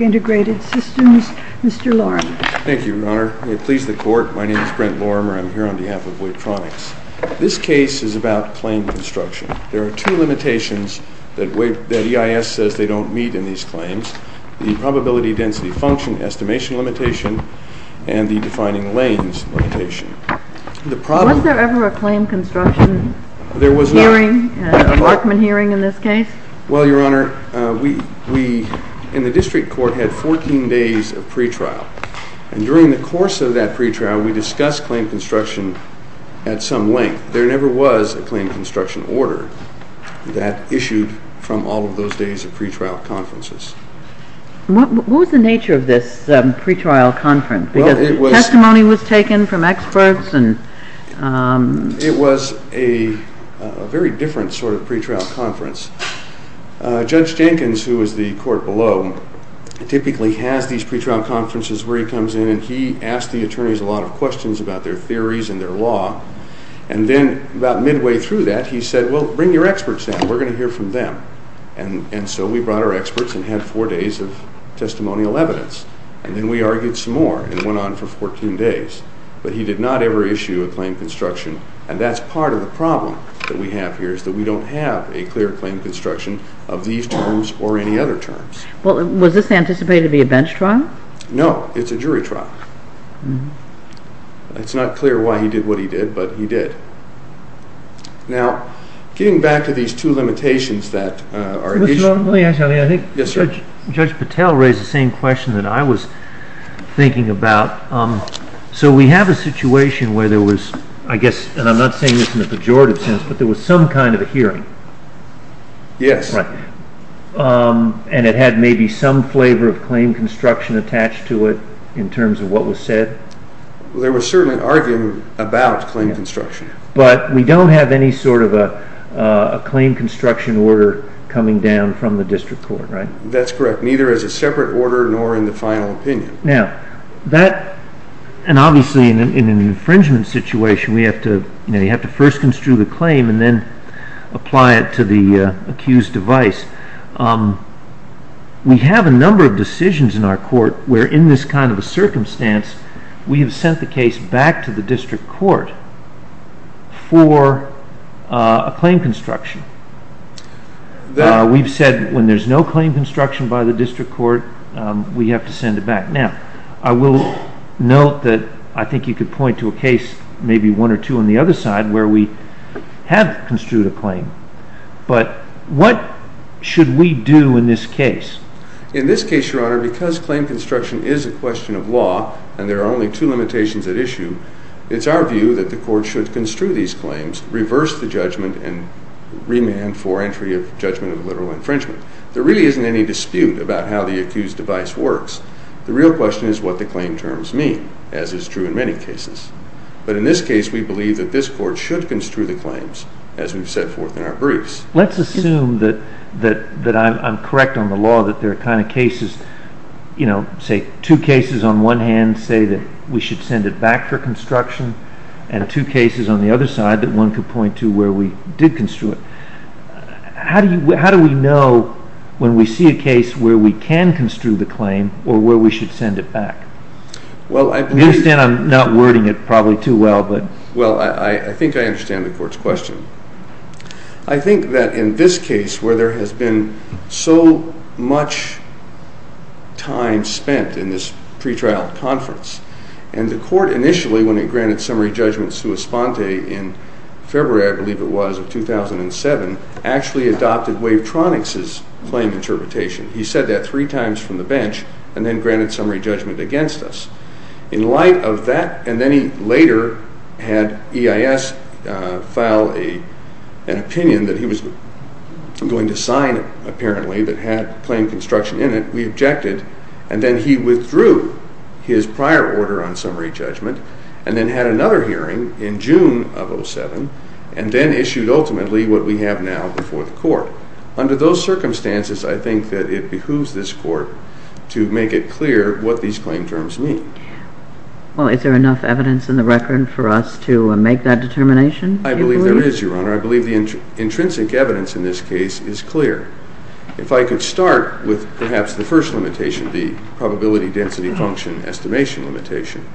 Integrated Systems, Mr. Lorem. Thank you, Your Honor. May it please the Court, my name is Brent Lorem and I'm here on behalf of WeTronix. This case is about claim construction. There are two limitations that EIS says they don't meet in these claims, the probability density function estimation limitation and the defining lanes limitation. Was there ever a claim construction hearing, a Markman hearing in this case? Well, Your Honor, we in the case we discussed claim construction at some length. There never was a claim construction order that issued from all of those days of pretrial conferences. What was the nature of this pretrial conference? Because testimony was taken from experts and... It was a very different sort of pretrial conference. Judge Jenkins, who is the court below, typically has these pretrial conferences where he comes in and he asks the attorneys a lot of questions about their theories and their law. And then about midway through that he said, well, bring your experts in. We're going to hear from them. And so we brought our experts and had four days of testimonial evidence. And then we argued some more and went on for 14 days. But he did not ever issue a claim construction. And that's part of the problem that we have here is that we don't have a clear claim construction of these terms or any other terms. Well, was this anticipated to be a bench trial? No, it's a jury trial. It's not clear why he did what he did, but he did. Now, getting back to these two limitations that are... Mr. Long, let me ask you something. I think Judge Patel raised the same question that I was thinking about. So we have a situation where there was, I guess, and I'm not saying this in a pejorative sense, but there was some kind of a hearing. Yes. Right. And it had maybe some flavor of claim construction attached to it in terms of what was said. There was certainly arguing about claim construction. But we don't have any sort of a claim construction order coming down from the district court, right? That's correct. Neither as a separate order nor in the final opinion. Now, that, and obviously in an infringement situation, we have to, you know, you have to first construe the claim and then apply it to the accused device. We have a number of decisions in our court where in this kind of a circumstance, we have sent the case back to the district court for a claim construction. We've said when there's no claim construction by the district court, we have to send it back. Now, I will note that I think you could point to a case, maybe one or two on the other side, where we have construed a claim. But what should we do in this case? In this case, Your Honor, because claim construction is a question of law and there are only two limitations at issue, it's our view that the court should construe these claims, reverse the judgment, and remand for entry of judgment of a literal infringement. There really isn't any dispute about how the accused device works. The real question is what the claim terms mean, as is true in many cases. But in this case, we believe that this court should construe the claims, as we've set forth in our briefs. Let's assume that I'm correct on the law that there are kind of cases, you know, say two cases on one hand say that we should send it back for construction and two cases on the other side that one could point to where we did construe it. How do we know when we see a case where we can construe the claim or where we should send it back? You understand I'm not wording it probably too well, but... Well, I think I understand the court's question. I think that in this case, where there has been so much time spent in this pretrial conference, and the court initially, when it granted summary judgment sua sponte in February, I believe it was, of 2007, actually adopted Wavetronix's claim interpretation. He said that three times from the bench and then granted summary judgment against us. In light of that, and then he later had EIS file an opinion that he was going to sign, apparently, that had claim construction in it, we objected, and then he withdrew his prior order on summary judgment and then had another hearing in June of 2007 and then issued ultimately what we have now before the court. Under those circumstances, I think that it behooves this court to make it clear what these claim terms mean. Well, is there enough evidence in the record for us to make that determination? I believe there is, Your Honor. I believe the intrinsic evidence in this case is clear. If I could start with perhaps the first limitation, the probability density function estimation limitation.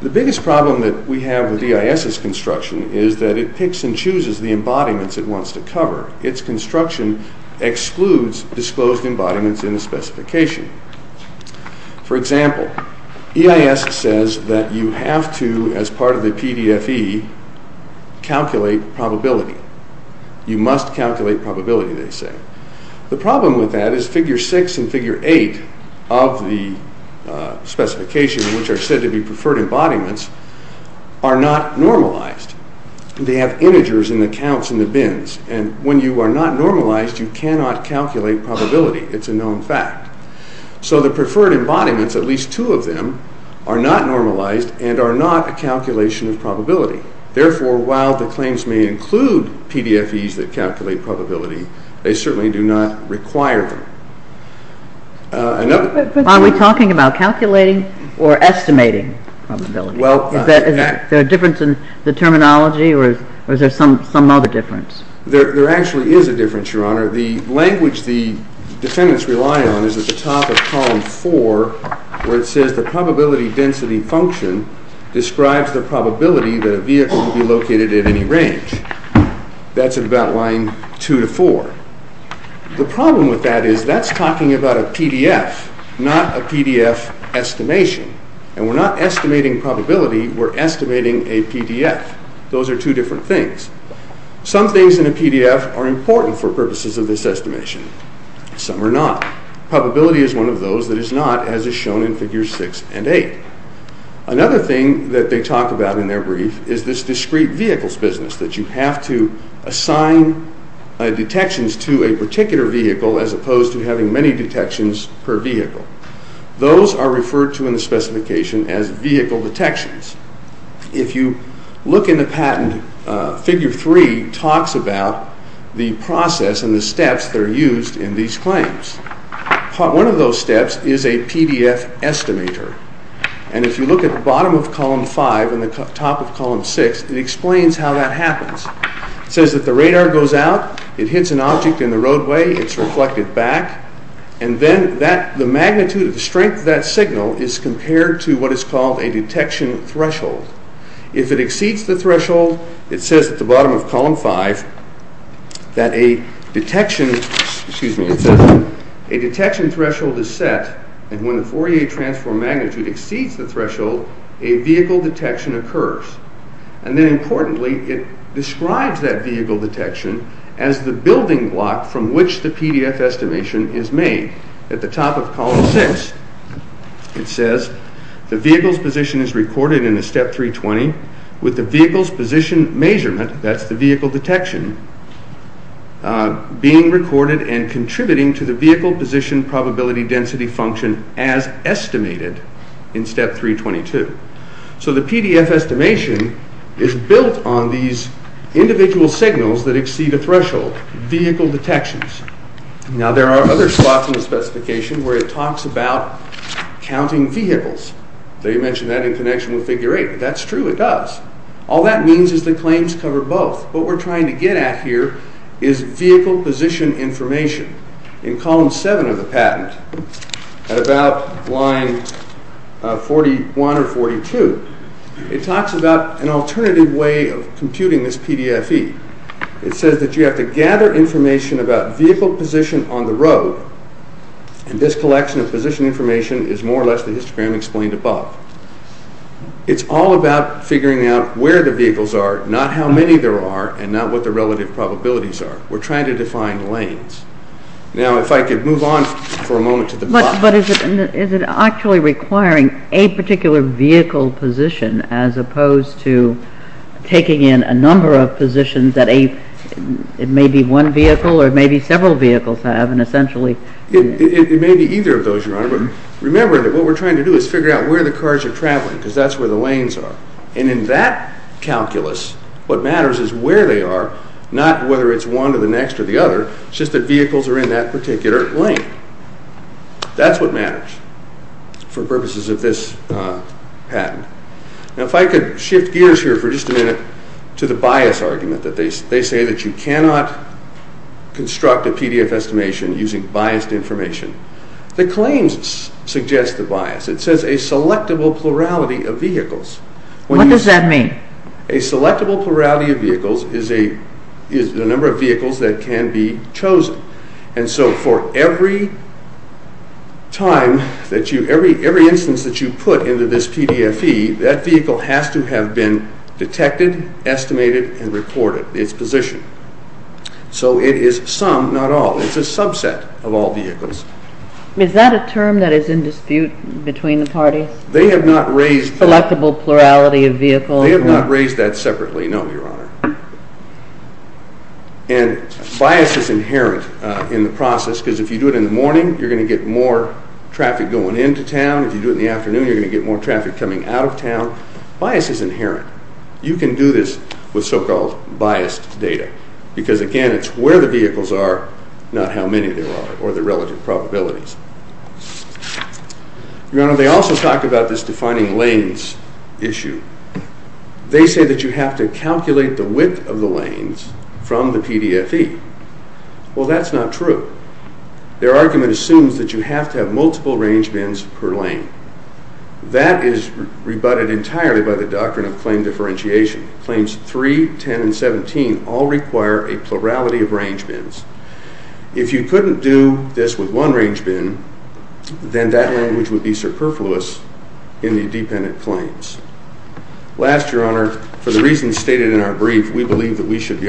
The biggest problem that we have with EIS's construction is that it picks and chooses the embodiments it wants to cover. Its construction excludes disclosed embodiments in the specification. For example, EIS says that you have to, as part of the PDFE, calculate probability. You must calculate probability, they say. The problem with that is figure six and figure eight of the specification, which are said to be preferred embodiments, are not normalized. They have integers in the counts in the bins, and when you are not normalized, you cannot calculate probability. It's a known fact. So the preferred embodiments, at least two of them, are not normalized and are not a calculation of probability. Therefore, while the claims may include PDFEs that calculate probability, they certainly do not require them. Are we talking about calculating or estimating probability? Is there a difference in the terminology, or is there some other difference? There actually is a difference, Your Honor. The language the defendants rely on is at the top of column four, where it says the probability density function describes the probability that a vehicle will be located at any range. That's about line two to four. The problem with that is that's talking about a PDF, not a PDF estimation. And we're not estimating probability, we're estimating a PDF. Those are two different things. Some things in a PDF are important for purposes of this estimation. Some are not. Probability is one of those that is not, as is shown in figures six and eight. Another thing that they talk about in their brief is this discrete vehicles business, that you have to assign detections to a particular vehicle as opposed to having many detections per vehicle. Those are referred to in the specification as vehicle detections. If you look in the patent, figure three talks about the process and the steps that are used in these claims. One of those steps is a PDF estimator. And if you look at the bottom of column six, it explains how that happens. It says that the radar goes out, it hits an object in the roadway, it's reflected back, and then the magnitude of the strength of that signal is compared to what is called a detection threshold. If it exceeds the threshold, it says at the bottom of column five that a detection, excuse me, it says a detection threshold is set, and when the Fourier transform magnitude exceeds the threshold, a vehicle detection occurs. And then importantly, it describes that vehicle detection as the building block from which the PDF estimation is made. At the top of column six, it says the vehicle's position is recorded in a step 320 with the vehicle's position measurement, that's the vehicle detection, being recorded and contributing to the vehicle position probability density function as estimated in step 322. So the PDF estimation is built on these individual signals that exceed a threshold, vehicle detections. Now there are other spots in the specification where it talks about counting vehicles. They mention that in connection with figure eight. That's true, it does. All that means is the claims cover both. What we're trying to get at here is vehicle position information. In column seven of the patent, at about line 41 or 42, it talks about an alternative way of computing this PDFE. It says that you have to gather information about vehicle position on the road, and this collection of position information is more or less the histogram explained above. It's all about figuring out where the vehicles are, not how many there are, and not what the relative probabilities are. We're trying to define lanes. Now if I could move on for a moment to the box. But is it actually requiring a particular vehicle position as opposed to taking in a number of positions that it may be one vehicle or it may be several vehicles have and essentially It may be either of those, Your Honor, but remember that what we're trying to do is figure out where the cars are traveling, because that's where the lanes are. And in that calculus, what matters is where they are, not whether it's one or the next or the other. It's just that vehicles are in that particular lane. That's what matters for purposes of this patent. Now if I could shift gears here for just a minute to the bias argument that they say that you cannot construct a PDF estimation using biased information. The claims suggest a bias. It says a selectable plurality of vehicles. What does that mean? A selectable plurality of vehicles is the number of vehicles that can be chosen. And so for every time that you, every instance that you put into this PDFE, that vehicle has to have been detected, estimated, and reported, its position. So it is some, not all. It's a subset of all between the parties. They have not raised. Selectable plurality of vehicles. They have not raised that separately, no, Your Honor. And bias is inherent in the process, because if you do it in the morning, you're going to get more traffic going into town. If you do it in the afternoon, you're going to get more traffic coming out of town. Bias is inherent. You can do this with so-called biased data, because again, it's where the vehicles are, not how many there are, or the relative probabilities. Your Honor, they also talk about this defining lanes issue. They say that you have to calculate the width of the lanes from the PDFE. Well, that's not true. Their argument assumes that you have to have multiple range bins per lane. That is rebutted entirely by the doctrine of claim differentiation. Claims 3, 10, and 11 are range bins. If you couldn't do this with one range bin, then that language would be superfluous in the dependent claims. Last, Your Honor, for the reasons stated in our brief, we believe that we should be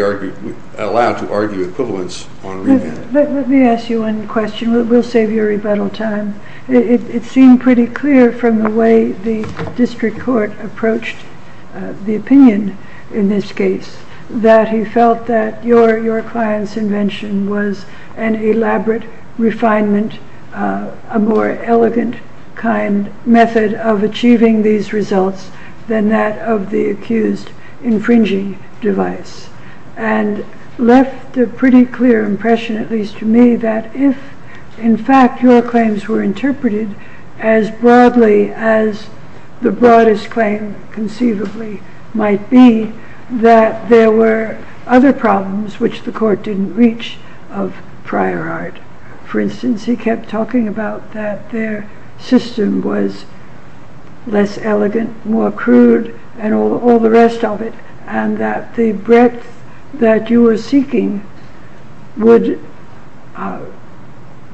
allowed to argue equivalence on a rebate. Let me ask you one question. We'll save you rebuttal time. It seemed pretty clear from the way the district court approached the opinion in this case, that he felt that your client's invention was an elaborate refinement, a more elegant kind method of achieving these results than that of the accused infringing device, and left a pretty clear impression, at least to me, that if, in fact, your claims were interpreted as broadly as the broadest claim conceivably might be, that there were other problems which the court didn't reach of prior art. For instance, he kept talking about that their system was less elegant, more crude, and all the rest of it, and that the breadth that you were seeking would,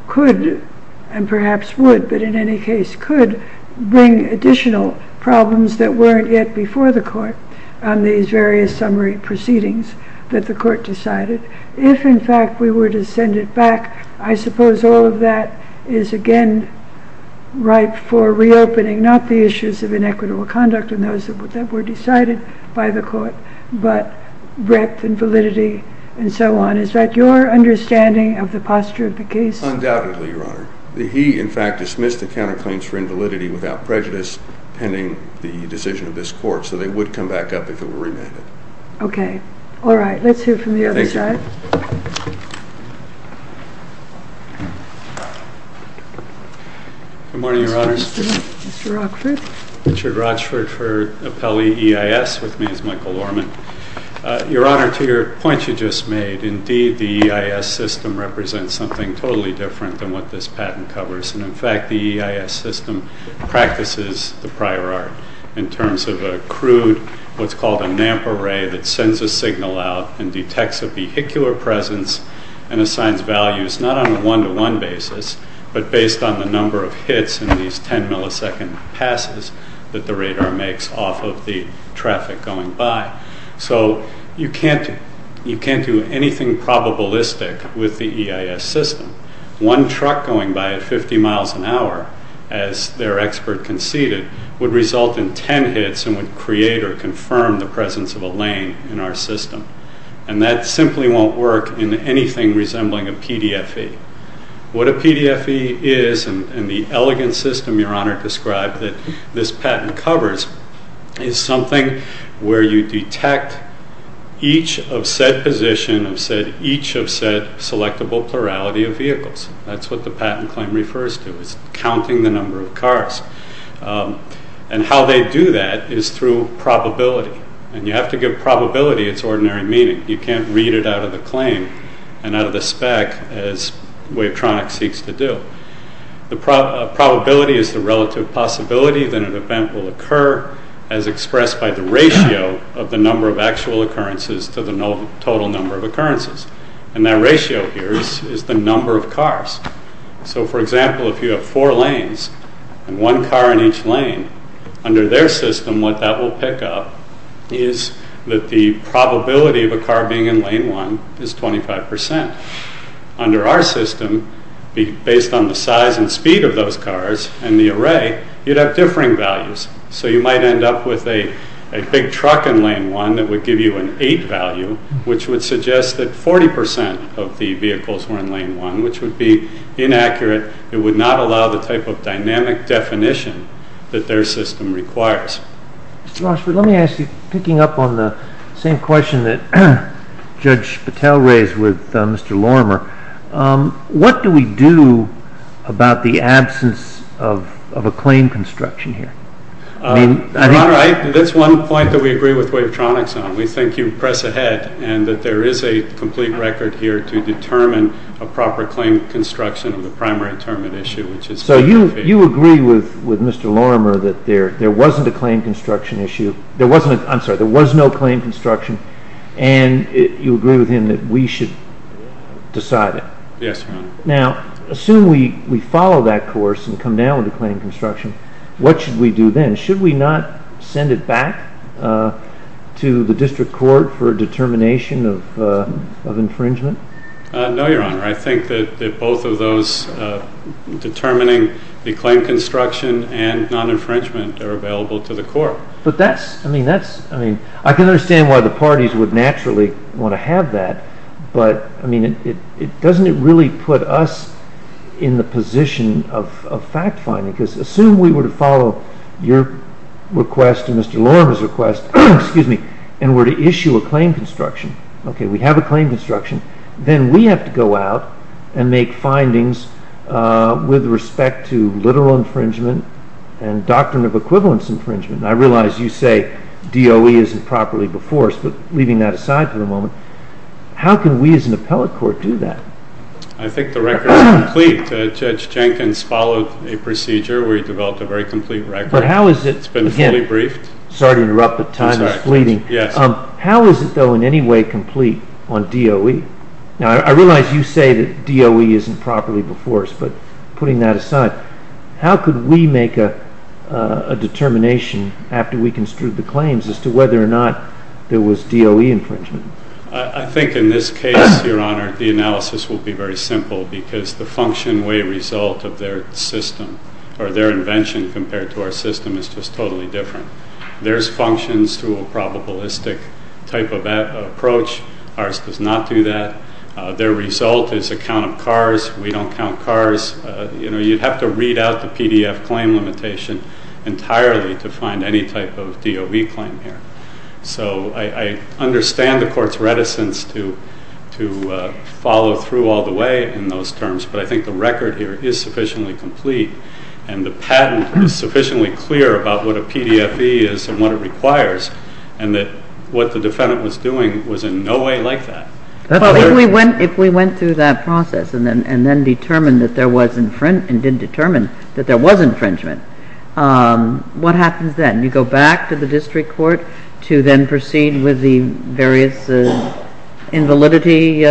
could, and perhaps would, but in any case could, bring additional problems that weren't yet before the court on these various summary proceedings that the court decided. If, in fact, we were to send it back, I suppose all of that is, again, ripe for reopening, not the issues of inequitable conduct and those that were decided by the court, but breadth and validity and so on. Is that your understanding of the posture of the case? Undoubtedly, Your Honor. He, in fact, dismissed the counterclaims for invalidity without prejudice pending the decision of this court, so they would come back up if it were remanded. Okay. All right. Let's hear from the other side. Good morning, Your Honors. Mr. Rochford. Richard Rochford for Apelli EIS with me as Michael Orman. Your Honor, to your point you just made, indeed, the EIS system represents something totally different than what this patent covers, and, in fact, the EIS system practices the prior art in terms of a crude, what's called a NAMP array that sends a signal out and detects a vehicular presence and assigns values, not on a one-to-one basis, but based on the number of hits in these 10 millisecond passes that the radar makes off of the vehicle. So there's nothing probabilistic with the EIS system. One truck going by at 50 miles an hour, as their expert conceded, would result in 10 hits and would create or confirm the presence of a lane in our system, and that simply won't work in anything resembling a PDFE. What a PDFE is, and the elegant system Your Honor described that this patent covers, is something where you detect each of said position, each of said selectable plurality of vehicles. That's what the patent claim refers to. It's counting the number of cars, and how they do that is through probability, and you have to give probability its ordinary meaning. You can't read it out of the claim and out of the spec as Wavetronic seeks to do. The probability is the relative possibility that an event will occur as expressed by the ratio of the number of actual occurrences to the total number of occurrences, and that ratio here is the number of cars. So for example, if you have four lanes and one car in each lane, under their system what that will pick up is that the probability of a car being in lane one is 25 percent. Under our system, based on the size and speed of those cars and the array, you'd have differing values. So you might end up with a big truck in lane one that would give you an eight value, which would suggest that 40 percent of the vehicles were in lane one, which would be inaccurate. It would not allow the type of dynamic definition that their system requires. Mr. Rochford, let me ask you, picking up on the same question that Judge Patel raised with Mr. Lorimer, what do we do about the absence of a claim construction here? Your Honor, that's one point that we agree with Wavetronic on. We think you press ahead and that there is a complete record here to determine a proper claim construction of the primary determinant issue. So you agree with Mr. Lorimer that there wasn't a claim construction issue, there wasn't, I'm sorry, there was no claim construction and you agree with him that we should decide it? Yes, Your Honor. Now, assume we follow that course and come down with a claim construction, what should we do then? Should we not send it back to the district court for a determination of infringement? No, Your Honor. I think that both of those determining the claim construction. I can understand why the parties would naturally want to have that, but doesn't it really put us in the position of fact-finding? Because assume we were to follow your request and Mr. Lorimer's request and were to issue a claim construction, okay, we have a claim construction, then we have to go out and make findings with respect to literal infringement and doctrine of equivalence infringement. I realize you say DOE isn't properly before us, but leaving that aside for the moment, how can we as an appellate court do that? I think the record is complete. Judge Jenkins followed a procedure where he developed a very complete record. It's been fully briefed. Sorry to interrupt, but time is fleeting. How is it though in any way complete on DOE? Now, I realize you say that DOE isn't properly before us, but putting that aside, how could we make a determination after we construed the claims as to whether or not there was DOE infringement? I think in this case, Your Honor, the analysis will be very simple because the function way result of their system or their invention compared to our system is just totally different. Theirs functions through a probabilistic type of approach. Ours does not do that. Their result is a count of cars. We don't count cars. You'd have to read out the PDF claim limitation entirely to find any type of DOE claim here. So I understand the court's reticence to follow through all the way in those terms, but I think the record here is sufficiently complete and the patent is sufficiently clear about what a PDFE is and what it requires, and that what the defendant was doing was in no way like that. If we went through that process and then determined that there was and didn't determine that there was infringement, what happens then? You go back to the district court to then proceed with the various invalidity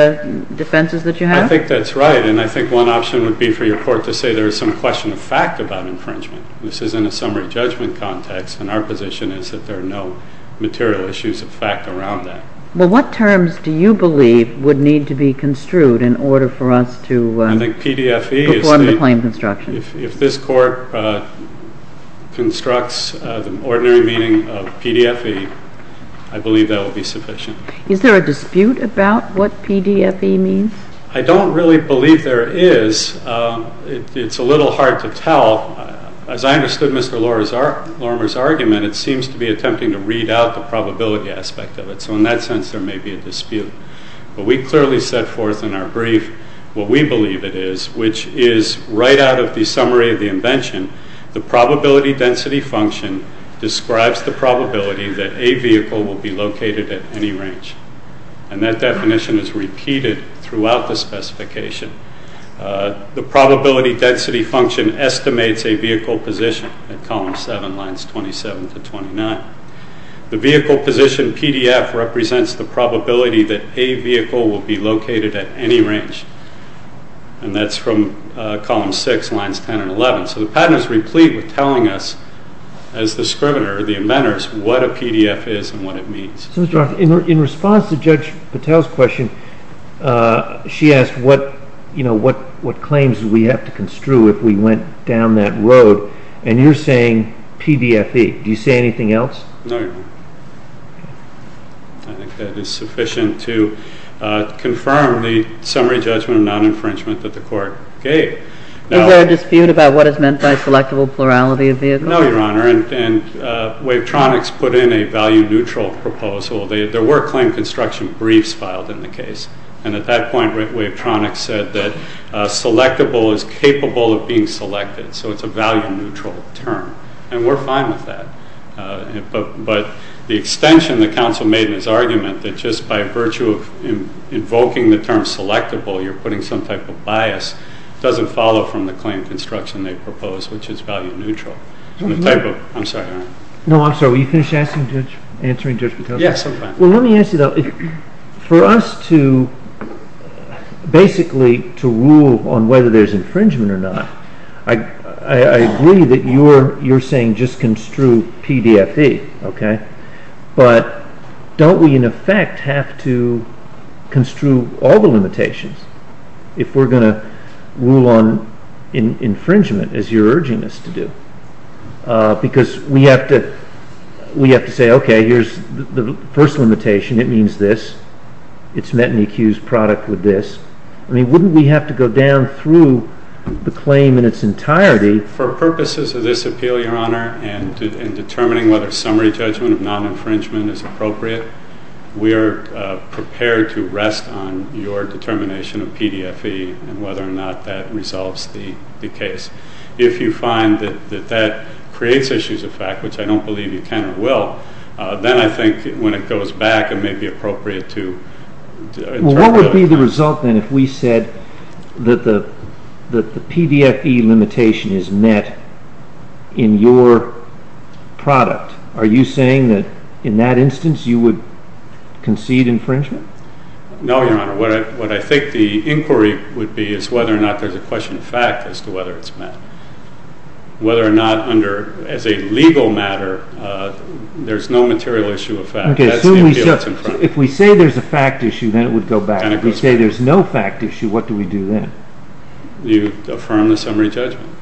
defenses that you have? I think that's right, and I think one option would be for your court to say there is some question of fact about infringement. This is in a summary judgment context, and our position is there are no material issues of fact around that. Well, what terms do you believe would need to be construed in order for us to perform the claim construction? If this court constructs the ordinary meaning of PDFE, I believe that would be sufficient. Is there a dispute about what PDFE means? I don't really believe there is. It's a little hard to tell. As I understood Mr. Lorimer's attempting to read out the probability aspect of it, so in that sense there may be a dispute, but we clearly set forth in our brief what we believe it is, which is right out of the summary of the invention. The probability density function describes the probability that a vehicle will be located at any range, and that definition is repeated throughout the specification. The probability density function estimates a vehicle position at column 7, lines 27 to 29. The vehicle position PDF represents the probability that a vehicle will be located at any range, and that's from column 6, lines 10 and 11. So the pattern is replete with telling us as the scrivener, the inventors, what a PDF is and what it means. So, Mr. Rock, in response to Judge Patel's question, she asked what claims do we have to construe if we went down that road, and you're saying PDFE. Do you say anything else? No, Your Honor. I think that is sufficient to confirm the summary judgment of non-infringement that the court gave. Is there a dispute about what is meant by selectable plurality of vehicles? No, Your Honor, and Wavetronics put in a value neutral proposal. There were claim construction briefs filed in the case, and at that point, Wavetronics said that selectable is capable of being selected, so it's a value neutral term, and we're fine with that. But the extension that counsel made in his argument that just by virtue of invoking the term selectable, you're putting some type of bias, doesn't follow from the claim construction they proposed, which is value neutral. No, I'm sorry, were you finished answering Judge Patel's question? Yes, I'm fine. Let me ask you, for us to basically rule on whether there's infringement or not, I agree that you're saying just construe PDFE, but don't we in effect have to construe all the limitations if we're going to rule on infringement as you're urging us to do? Because we have to say, okay, here's the first limitation. It means this. It's met an accused product with this. I mean, wouldn't we have to go down through the claim in its entirety? For purposes of this appeal, Your Honor, and determining whether summary judgment of non-infringement is appropriate, we are prepared to rest on your determination of PDFE and whether or not that resolves the case. If you find that that creates issues of fact, which I don't believe you can or will, then I think when it goes back, it may be appropriate to- Well, what would be the result then if we said that the PDFE limitation is met in your product? Are you saying that in that instance, you would concede infringement? No, Your Honor. What I think the inquiry would be is whether or not there's a question of fact as to whether it's met. Whether or not under, as a legal matter, there's no material issue of fact. If we say there's a fact issue, then it would go back. If we say there's no fact issue, what do we do then? You affirm the summary judgment.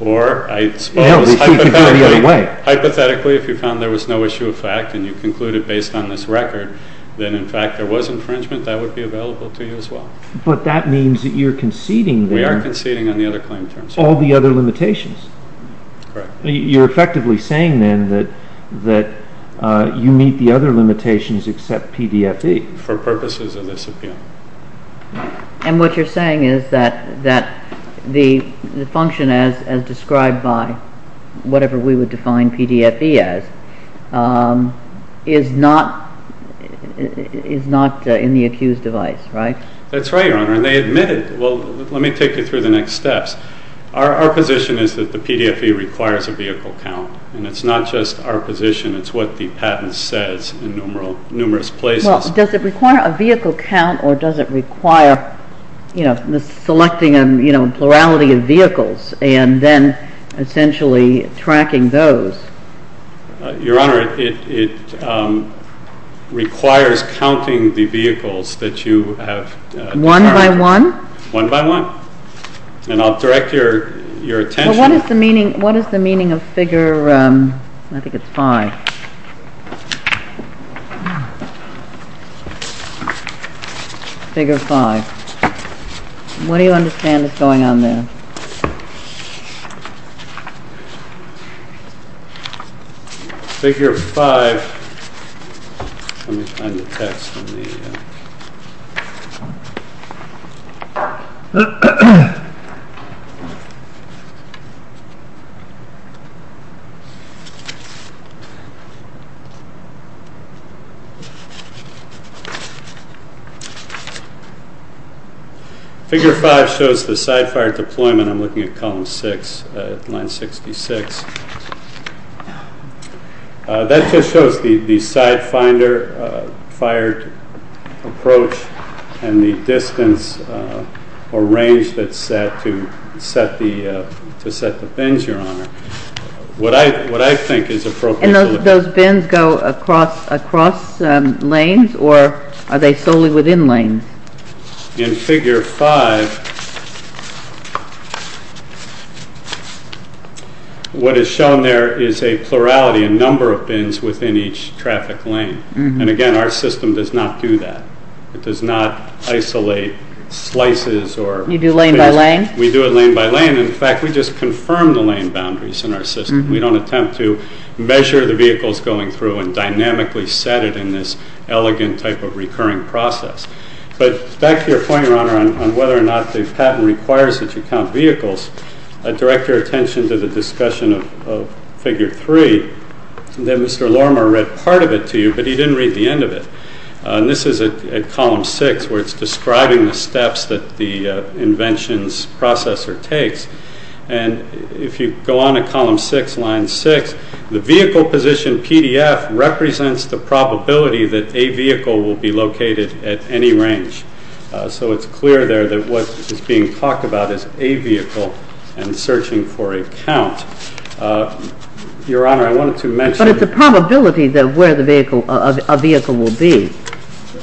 Or I suppose hypothetically, if you found there was no issue of fact and you concluded based on this record, then in fact there was infringement, that would be available to you as well. But that means that you're conceding there- We are conceding on the other claim terms. All the other limitations. Correct. You're effectively saying then that you meet the other limitations except PDFE. For purposes of this appeal. And what you're saying is that the function as described by whatever we would define PDFE as is not in the accused's device, right? That's right, Your Honor. And they admitted. Well, let me take you through the next steps. Our position is that the PDFE requires a vehicle count. And it's not just our position, it's what the patent says in numerous places. Well, does it require a vehicle count or does it require selecting a plurality of vehicles and then essentially tracking those? Your Honor, it requires counting the vehicles that you have- One by one? One by one. And I'll direct your attention- But what is the meaning of figure, I think it's five. Figure five. What do you understand is going on there? Figure five. Let me find the text on the- Figure five shows the sidefire deployment. I'm looking at column six, line 66. That just shows the side finder, fire approach, and the distance or range that's set to set the bins, Your Honor. What I think is appropriate- And those bins go across lanes or are they solely within lanes? In figure five, what is shown there is a plurality, a number of bins within each traffic lane. And again, our system does not do that. It does not isolate slices or- You do lane by lane? We do it lane by lane. In fact, we just confirm the lane boundaries in our system. We don't attempt to measure the vehicles going through and dynamically set it in this But back to your point, Your Honor, on whether or not the patent requires that you count vehicles, I'd direct your attention to the discussion of figure three that Mr. Lorimer read part of it to you, but he didn't read the end of it. This is at column six where it's describing the steps that the invention's processor takes. And if you go on to column six, line six, the vehicle position PDF represents the probability that a vehicle will be located at any range. So it's clear there that what is being talked about is a vehicle and searching for a count. Your Honor, I wanted to mention- But it's a probability that where a vehicle will be.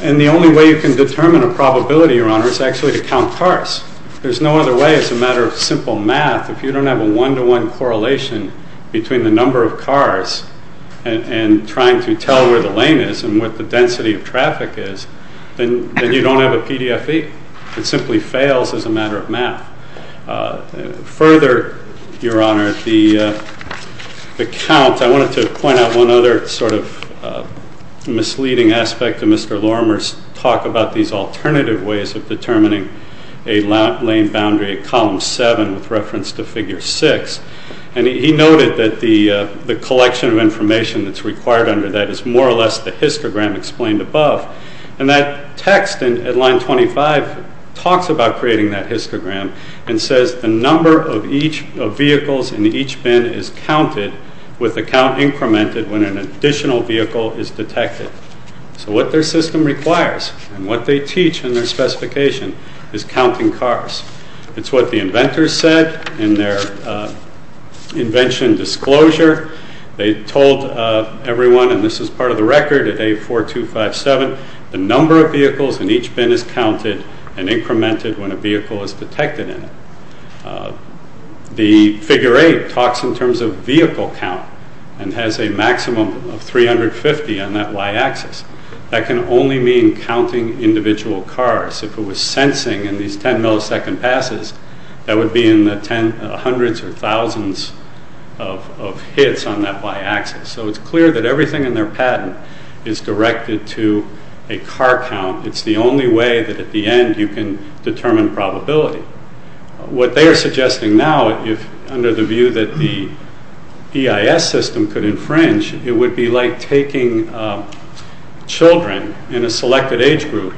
And the only way you can determine a probability, Your Honor, is actually to count cars. There's no other way. It's a matter of simple math. If you don't have a one-to-one correlation between the number of cars and trying to tell where the lane is and what the density of traffic is, then you don't have a PDFE. It simply fails as a matter of math. Further, Your Honor, the count- I wanted to point out one other sort of misleading aspect of Mr. Lorimer's talk about these alternative ways of determining a lane boundary at column seven with reference to figure six. And he noted that the collection of information that's required under that is more or less the histogram explained above. And that text at line 25 talks about creating that histogram and says, the number of vehicles in each bin is counted with the count incremented when an additional vehicle is detected. So what their system requires and what they teach in their specification is counting cars. It's what the inventors said in their invention disclosure. They told everyone, and this is part of the record at A4257, the number of vehicles in each bin is counted and incremented when a vehicle is detected in it. The figure eight talks in terms of vehicle count and has a maximum of 350 on that y-axis. That can only mean counting individual cars. If it was sensing in these 10 millisecond passes, that would be in the hundreds or thousands of hits on that y-axis. So it's clear that everything in their patent is directed to a car count. It's the only way that at the end you can determine probability. What they are suggesting now, if under the view that the EIS system could infringe, it would be like taking children in a selected age group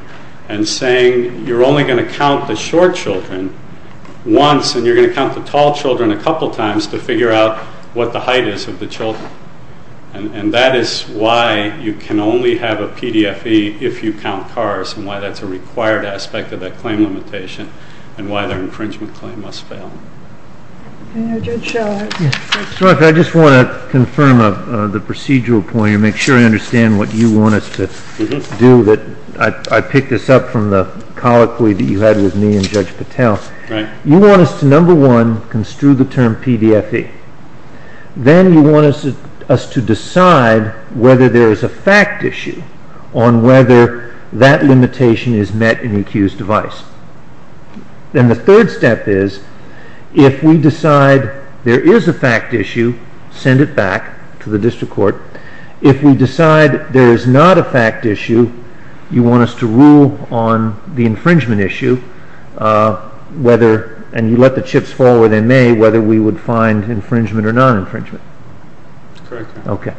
and saying, you're only going to count the short children once, and you're going to count the tall children a couple times to figure out what the height is of the children. And that is why you can only have a PDFE if you count cars, and why that's a required aspect of that claim limitation, and why their infringement claim must fail. I know Judge Schallert... Yeah, so I just want to confirm the procedural point, and make sure I understand what you want us to do. I picked this up from the colloquy that you had with me and Judge Patel. You want us to, number one, construe the term PDFE. Then you want us to decide whether there is a fact issue on whether that limitation is met in the accused device. Then the third step is, if we decide there is a fact issue, send it back to the district court. If we decide there is not a fact issue, you want us to rule on the infringement issue, whether, and you let the chips fall where they may, whether we would find infringement or non-infringement. Correct. Okay.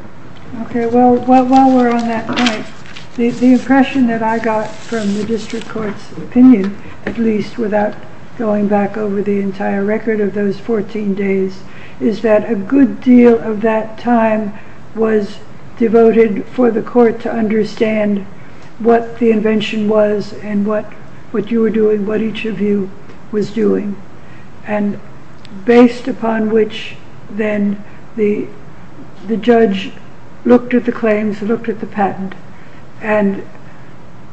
Okay, well, while we're on that point, the impression that I got from the district court's opinion, at least without going back over the entire record of those 14 days, is that a good deal of that time was devoted for the court to understand what the invention was and what you were doing, what each of you was doing. And based upon which, then the judge looked at the claims, looked at the patent, and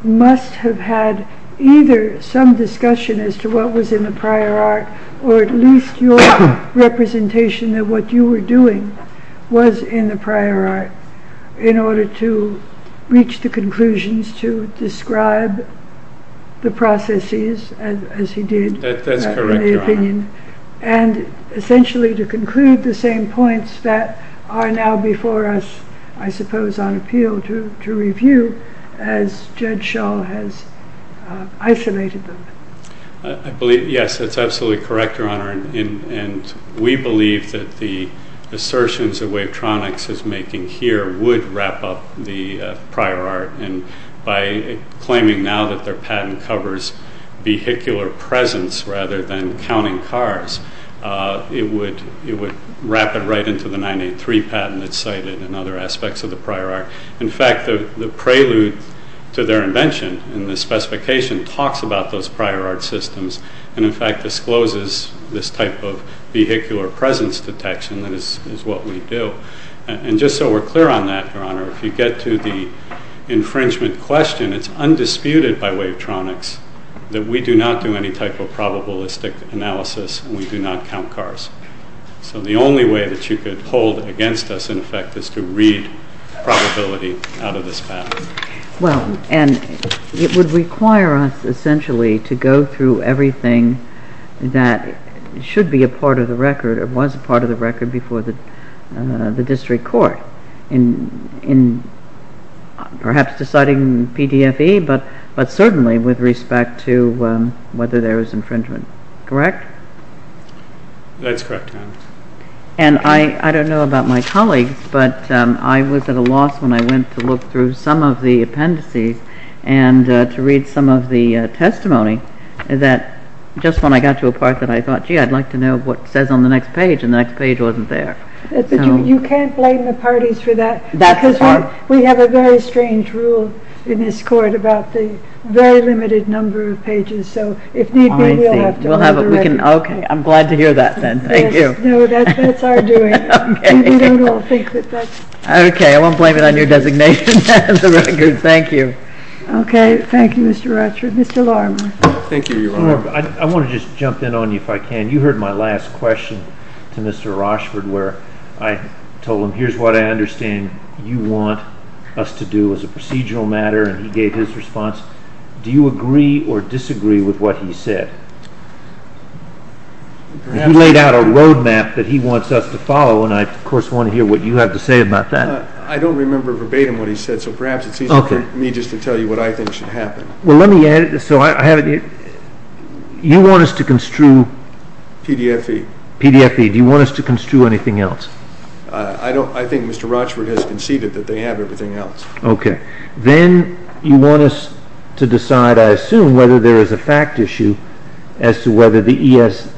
must have had either some discussion as to what was in the prior art, or at least your representation of what you were doing was in the prior art, in order to reach the conclusions to describe the processes as he did. That's correct, Your Honor. And essentially to conclude the same points that are now before us, I suppose, on appeal to review as Judge Schall has isolated them. I believe, yes, that's absolutely correct, Your Honor. And we believe that the assertions that Wavetronics is making here would wrap up the prior art. And by claiming now that their patent covers vehicular presence rather than counting cars, it would wrap it right into the 983 patent that's cited and other aspects of the prior art. In fact, the prelude to their invention in the specification talks about those prior art systems and in fact discloses this type of vehicular presence detection that is what we do. And just so we're clear on that, Your Honor, if you get to the infringement question, it's undisputed by Wavetronics that we do not do any type of probabilistic analysis and we do not count cars. So the only way that you could hold against us, in effect, is to read probability out of this patent. Well, and it would require us essentially to go through everything that should be a part of the record or was a part of the record before the district court in perhaps deciding PDFE, but certainly with respect to whether there was infringement. Correct? That's correct, Your Honor. And I don't know about my colleagues, but I was at a loss when I went to look through some of the appendices and to read some of the testimony that just when I got to a part that I thought, gee, I'd like to know what says on the next page and the next page wasn't there. You can't blame the parties for that. We have a very strange rule in this court about the very limited number of pages. So if need be, we'll have to underwrite it. Okay, I'm glad to hear that then. Thank you. No, that's our doing. Okay, I won't blame it on your designation as a record. Thank you. Okay, thank you, Mr. Rochford. Mr. Lorimer. Thank you, Your Honor. I want to just jump in on you if I can. You heard my last question to Mr. Rochford where I told him here's what I understand you want us to do as a procedural matter and he gave his response. Do you agree or disagree with what he said? He laid out a roadmap that he wants us to follow and I, of course, want to hear what you have to say about that. I don't remember verbatim what he said, so perhaps it's easier for me just to tell you what I think should happen. Well, let me add it. So you want us to construe PDFE. Do you want us to construe anything else? I think Mr. Rochford has conceded that they have everything else. Okay. Then you want us to decide, I assume, whether there is a fact issue as to whether the EIS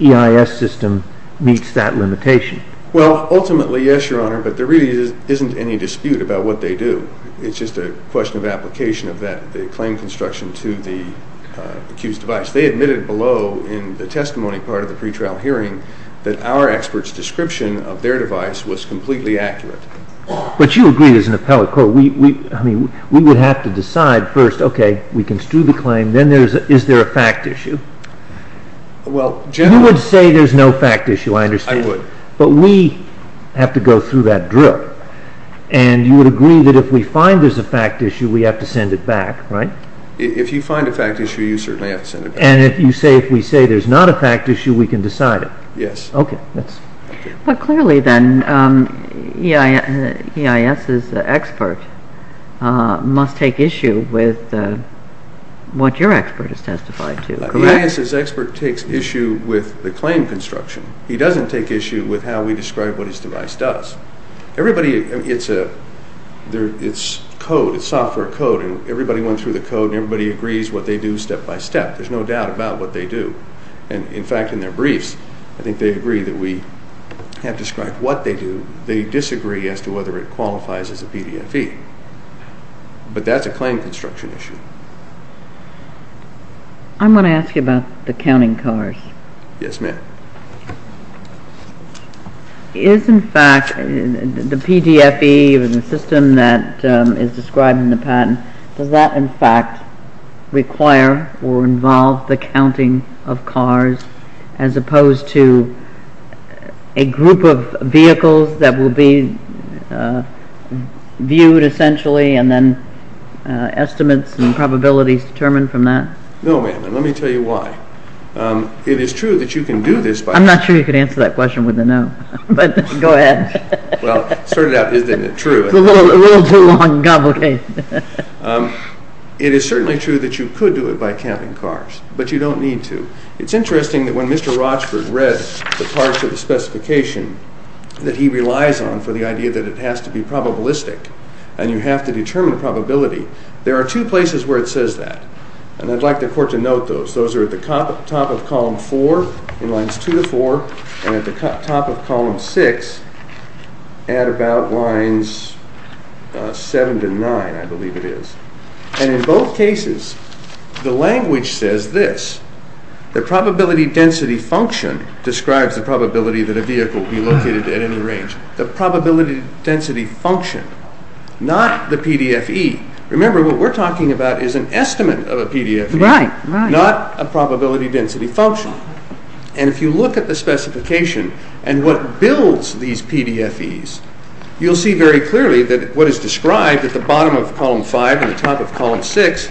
system meets that limitation. Well, ultimately, yes, Your Honor, but there really isn't any dispute about what they do. It's just a question of application of the claim construction to the accused device. They admitted below in the testimony part of the pretrial hearing that our expert's description of their device was completely accurate. But you agreed as an appellate court. I mean, we would have to decide first, okay, we construe the claim, then is there a fact issue? Well, generally... You would say there's no fact issue, I understand. I would. But we have to go through that drill. And you would agree that if we find there's a fact issue, we have to send it back, right? If you find a fact issue, you certainly have to send it back. And if we say there's not a fact issue, we can decide it? Yes. Okay. But clearly then, EIS's expert must take issue with what your expert has testified to, correct? EIS's expert takes issue with the claim construction. He doesn't take issue with how we describe what his device does. Everybody... It's code, it's software code, and everybody went through the code and everybody agrees what they do step by step. There's no doubt about what they do. And in fact, in their briefs, I think they agree that we have described what they do. They disagree as to whether it qualifies as a PDFE. But that's a claim construction issue. I'm going to ask you about the counting cars. Yes, ma'am. Is in fact the PDFE, or the system that is described in the patent, does that in fact require or involve the counting of cars as opposed to a group of vehicles that will be viewed essentially and then estimates and probabilities determined from that? No, ma'am. And let me tell you why. It is true that you can do this by... I'm not sure you could answer that question with a no, but go ahead. Well, sort it out, isn't it true? It's a little too long and complicated. It is certainly true that you could do it by counting cars, but you don't need to. It's interesting that when Mr. Rochford read the parts of the specification that he relies on for the idea that it has to be probabilistic and you have to determine probability. There are two places where it says that. And I'd like the court to note those. Those are at the top of column four in lines two to four and at the top of column six at about lines seven to nine, I believe it is. And in both cases, the language says this. The probability density function describes the probability that a vehicle will be located at any range. The probability density function, not the PDFE. Remember, what we're talking about is an estimate of a PDFE, not a probability density function. And if you look at the specification and what builds these PDFEs, you'll see very clearly that what is described at the bottom of column five and the top of column six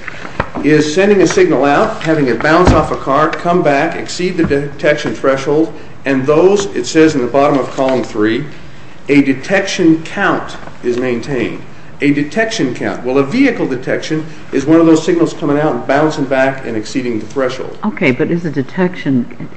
is sending a signal out, having it bounce off a car, come back, exceed the detection threshold. And those, it says in the bottom of column three, a detection count is maintained. A detection count. Well, a vehicle detection is one of those signals coming out and bouncing back and exceeding the threshold. Okay, but is a detection,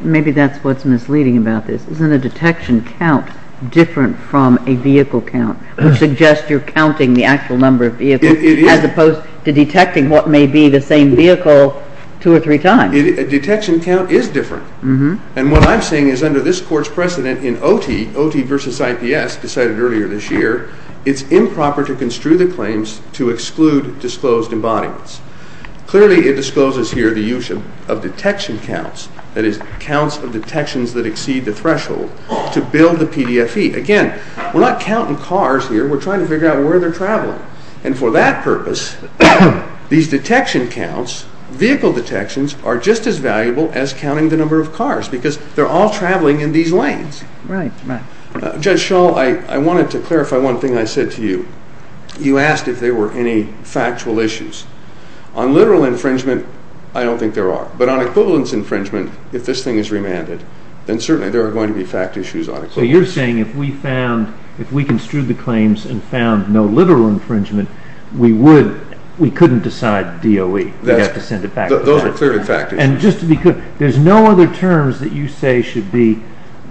maybe that's what's misleading about this. Isn't a detection count different from a vehicle count? Which suggests you're counting the actual number of vehicles as opposed to detecting what may be the same vehicle two or three times. A detection count is different. And what I'm saying is under this court's precedent in OT, OT versus IPS decided earlier this year, it's improper to construe the claims to exclude disclosed embodiments. Clearly, it discloses here the use of detection counts, that is counts of detections that exceed the threshold to build the PDFE. Again, we're not counting cars here. We're trying to figure out where they're traveling. And for that purpose, these detection counts, vehicle detections are just as valuable as counting the number of cars because they're all traveling in these lanes. Right, right. Judge Schall, I wanted to clarify one thing I said to you. You asked if there were any factual issues. On literal infringement, I don't think there are. But on equivalence infringement, if this thing is remanded, then certainly there are going to be fact issues on it. So you're saying if we found, if we construed the claims and found no literal infringement, we couldn't decide DOE. We'd have to send it back. Those are clearly fact issues. And just to be clear, there's no other terms that you say should be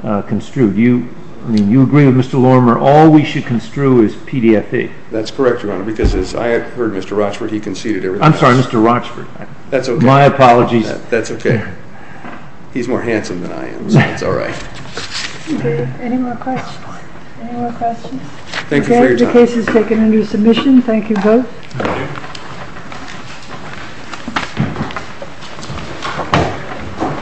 construed. I mean, you agree with Mr. Lormer, all we should construe is PDFE. That's correct, Your Honor, because as I heard Mr. Rochford, he conceded everything else. I'm sorry, Mr. Rochford. That's okay. My apologies. That's okay. He's more handsome than I am, so it's all right. Okay, any more questions? Any more questions? Thank you for your time. The case is taken under submission. Thank you both. Thank you.